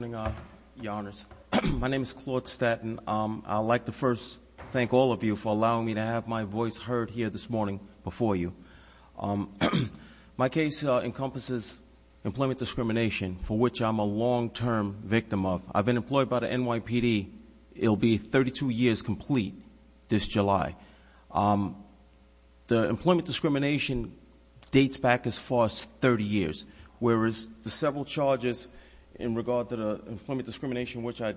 Good morning, Your Honors. My name is Claude Statton. I'd like to first thank all of you for allowing me to have my voice heard here this morning before you. My case encompasses employment discrimination, for which I'm a long-term victim of. I've been employed by the NYPD. It'll be 32 years complete this July. The employment discrimination dates back as far as 30 years, whereas the several charges in regard to the employment discrimination, which I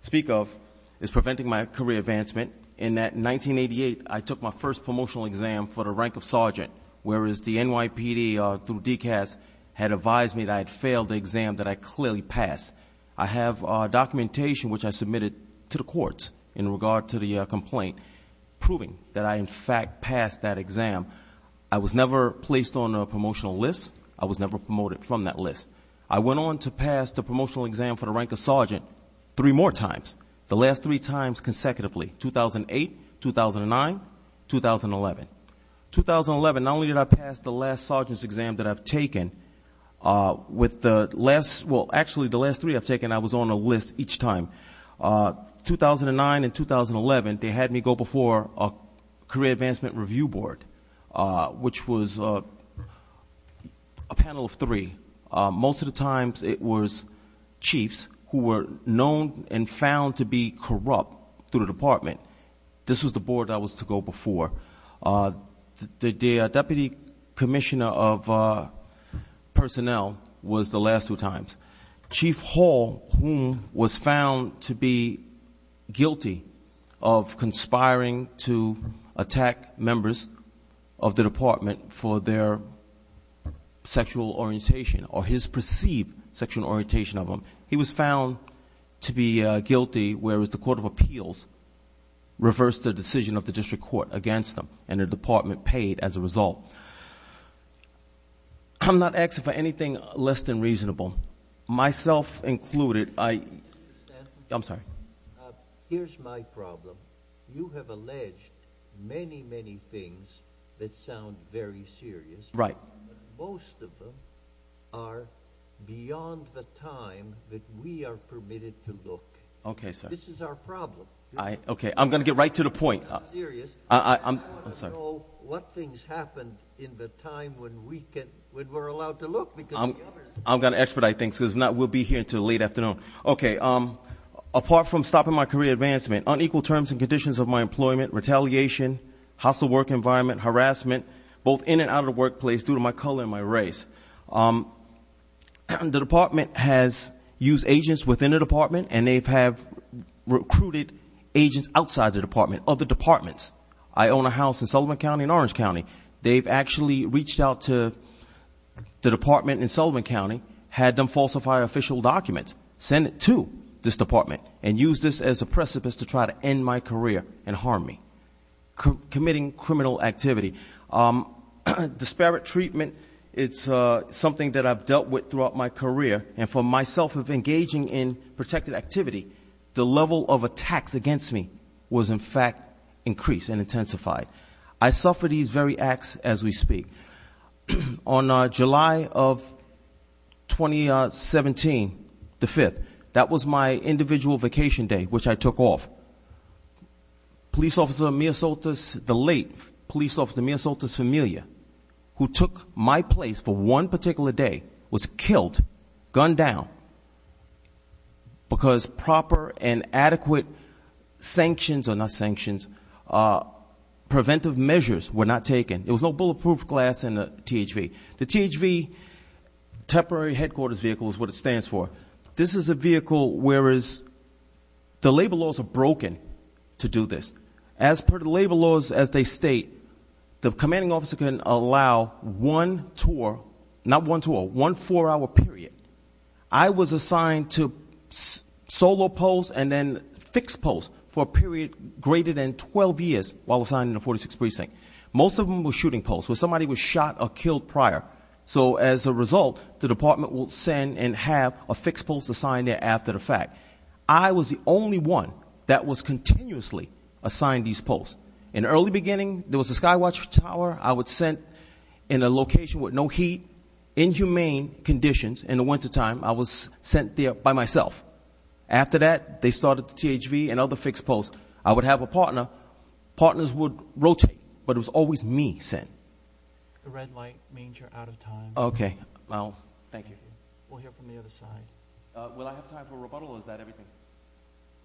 speak of, is preventing my career advancement. In 1988, I took my first promotional exam for the rank of sergeant, whereas the NYPD, through DCAS, had advised me that I had failed the exam that I clearly passed. I have documentation, which I submitted to the courts in regard to the complaint, proving that I, in fact, passed that exam. I was never placed on a promotional list. I was never promoted from that list. I went on to pass the promotional exam for the rank of sergeant three more times, the last three times consecutively, 2008, 2009, 2011. Not only did I pass the last sergeant's exam that I've taken, with the last, well, actually the last three I've taken, I was on a list each time. 2009 and 2011, they had me go before a career advancement review board, which was a panel of three. Most of the times, it was chiefs who were known and found to be corrupt through the department. This was the board I was to go before. The deputy commissioner of personnel was the last two times. Chief Hall, who was found to be guilty of conspiring to attack members of the department for their sexual orientation or his perceived sexual orientation of them, he was found to be guilty, whereas the court of appeals reversed the decision of the district court against him, and the department paid as a result. I'm not asking for anything less than reasonable. Myself included, I'm sorry. Here's my problem. You have alleged many, many things that sound very serious. Right. But most of them are beyond the time that we are permitted to look. Okay, sir. This is our problem. Okay. I'm going to get right to the point. I'm serious. I'm sorry. I want to know what things happened in the time when we can, when we're allowed to look, because the others. I'm going to expedite things, because if not, we'll be here until late afternoon. Okay. Apart from stopping my career advancement, unequal terms and conditions of my employment, retaliation, hostile work environment, harassment, both in and out of the workplace due to my color and my race, the department has used agents within the department, and they have recruited agents outside the department, other departments. I own a house in Sullivan County and Orange County. They've actually reached out to the department in Sullivan County, had them falsify official documents, send it to this department, and use this as a precipice to try to end my career and harm me. Committing criminal activity. Disparate treatment, it's something that I've dealt with throughout my career, and for myself, of engaging in protected activity, the level of attacks against me was, in fact, increased and intensified. I suffered these very acts as we speak. On July of 2017, the 5th, that was my individual vacation day, which I took off. Police Officer Amir Soltis, the late Police Officer Amir Soltis Familia, who took my place for one particular day, was killed, gunned down, because proper and adequate sanctions, or not sanctions, preventive measures were not taken. There was no bulletproof glass in the THV. The THV, Temporary Headquarters Vehicle, is what it stands for. This is a vehicle where the labor laws are broken to do this. As per the labor laws as they state, the commanding officer can allow one tour, not one tour, one four-hour period. I was assigned to solo posts and then fixed posts for a period greater than 12 years while assigned in the 46th Precinct. Most of them were shooting posts, where somebody was shot or killed prior. So as a result, the department would send and have a fixed post assigned there after the fact. I was the only one that was continuously assigned these posts. In the early beginning, there was a sky watch tower I would send in a location with no heat, in humane conditions. In the wintertime, I was sent there by myself. After that, they started the THV and other fixed posts. I would have a partner. Partners would rotate, but it was always me sent. The red light means you're out of time. Okay. Thank you. We'll hear from the other side. Will I have time for rebuttal, or is that everything?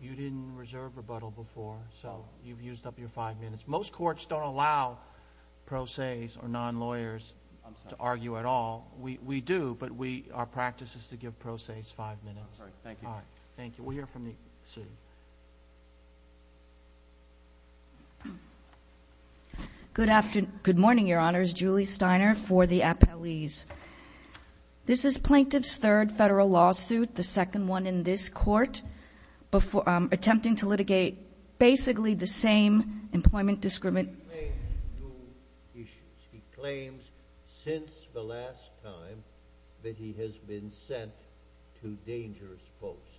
You didn't reserve rebuttal before, so you've used up your five minutes. Most courts don't allow pro ses or non-lawyers to argue at all. We do, but our practice is to give pro ses five minutes. All right. Thank you. We'll hear from the city. Good morning, Your Honors. Julie Steiner for the appellees. This is plaintiff's third federal lawsuit, the second one in this court, attempting to litigate basically the same employment discrimination. He claims new issues. He claims since the last time that he has been sent to dangerous posts.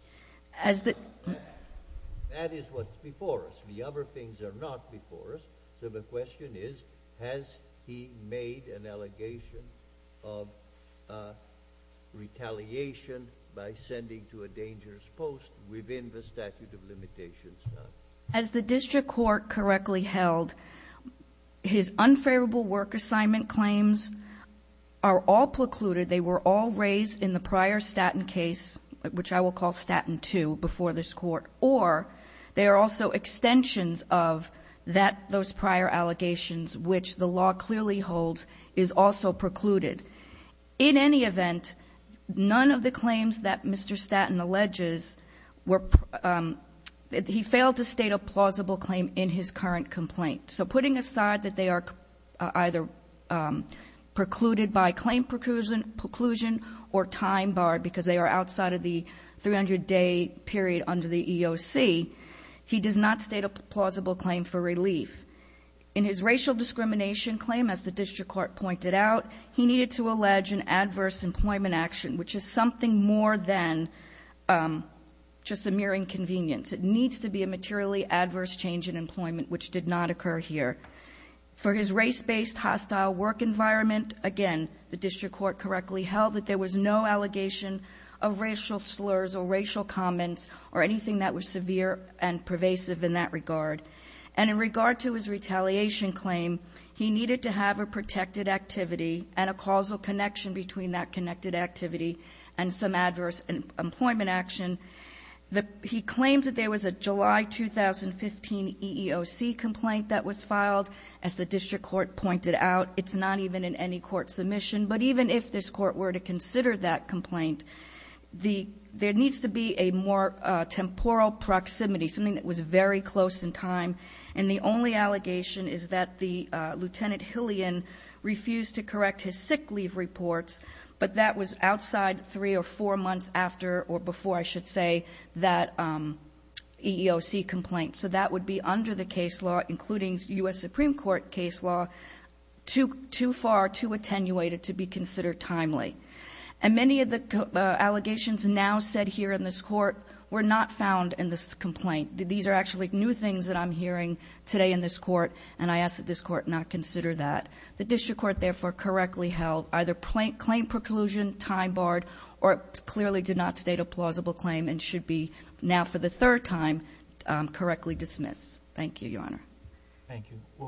That is what's before us. The other things are not before us, so the question is, has he made an allegation of retaliation by sending to a dangerous post within the statute of limitations? As the district court correctly held, his unfavorable work assignment claims are all precluded. They were all raised in the prior Statton case, which I will call Statton 2, before this court. Or they are also extensions of those prior allegations, which the law clearly holds is also precluded. In any event, none of the claims that Mr. Statton alleges were, he failed to state a plausible claim in his current complaint. So putting aside that they are either precluded by claim preclusion or time barred because they are outside of the 300-day period under the EOC, he does not state a plausible claim for relief. In his racial discrimination claim, as the district court pointed out, he needed to allege an adverse employment action, which is something more than just a mere inconvenience. It needs to be a materially adverse change in employment, which did not occur here. For his race-based hostile work environment, again, the district court correctly held that there was no allegation of racial slurs or racial comments or anything that was severe and pervasive in that regard. And in regard to his retaliation claim, he needed to have a protected activity and a causal connection between that connected activity and some adverse employment action. He claims that there was a July 2015 EEOC complaint that was filed. As the district court pointed out, it's not even in any court submission. But even if this court were to consider that complaint, there needs to be a more temporal proximity, something that was very close in time. And the only allegation is that the Lieutenant Hillian refused to correct his sick leave reports, but that was outside three or four months after or before, I should say, that EEOC complaint. So that would be under the case law, including U.S. Supreme Court case law, too far, too attenuated to be considered timely. And many of the allegations now said here in this court were not found in this complaint. These are actually new things that I'm hearing today in this court, and I ask that this court not consider that. The district court, therefore, correctly held either claim preclusion, time barred, or clearly did not state a plausible claim and should be now for the third time correctly dismissed. Thank you, Your Honor. Thank you.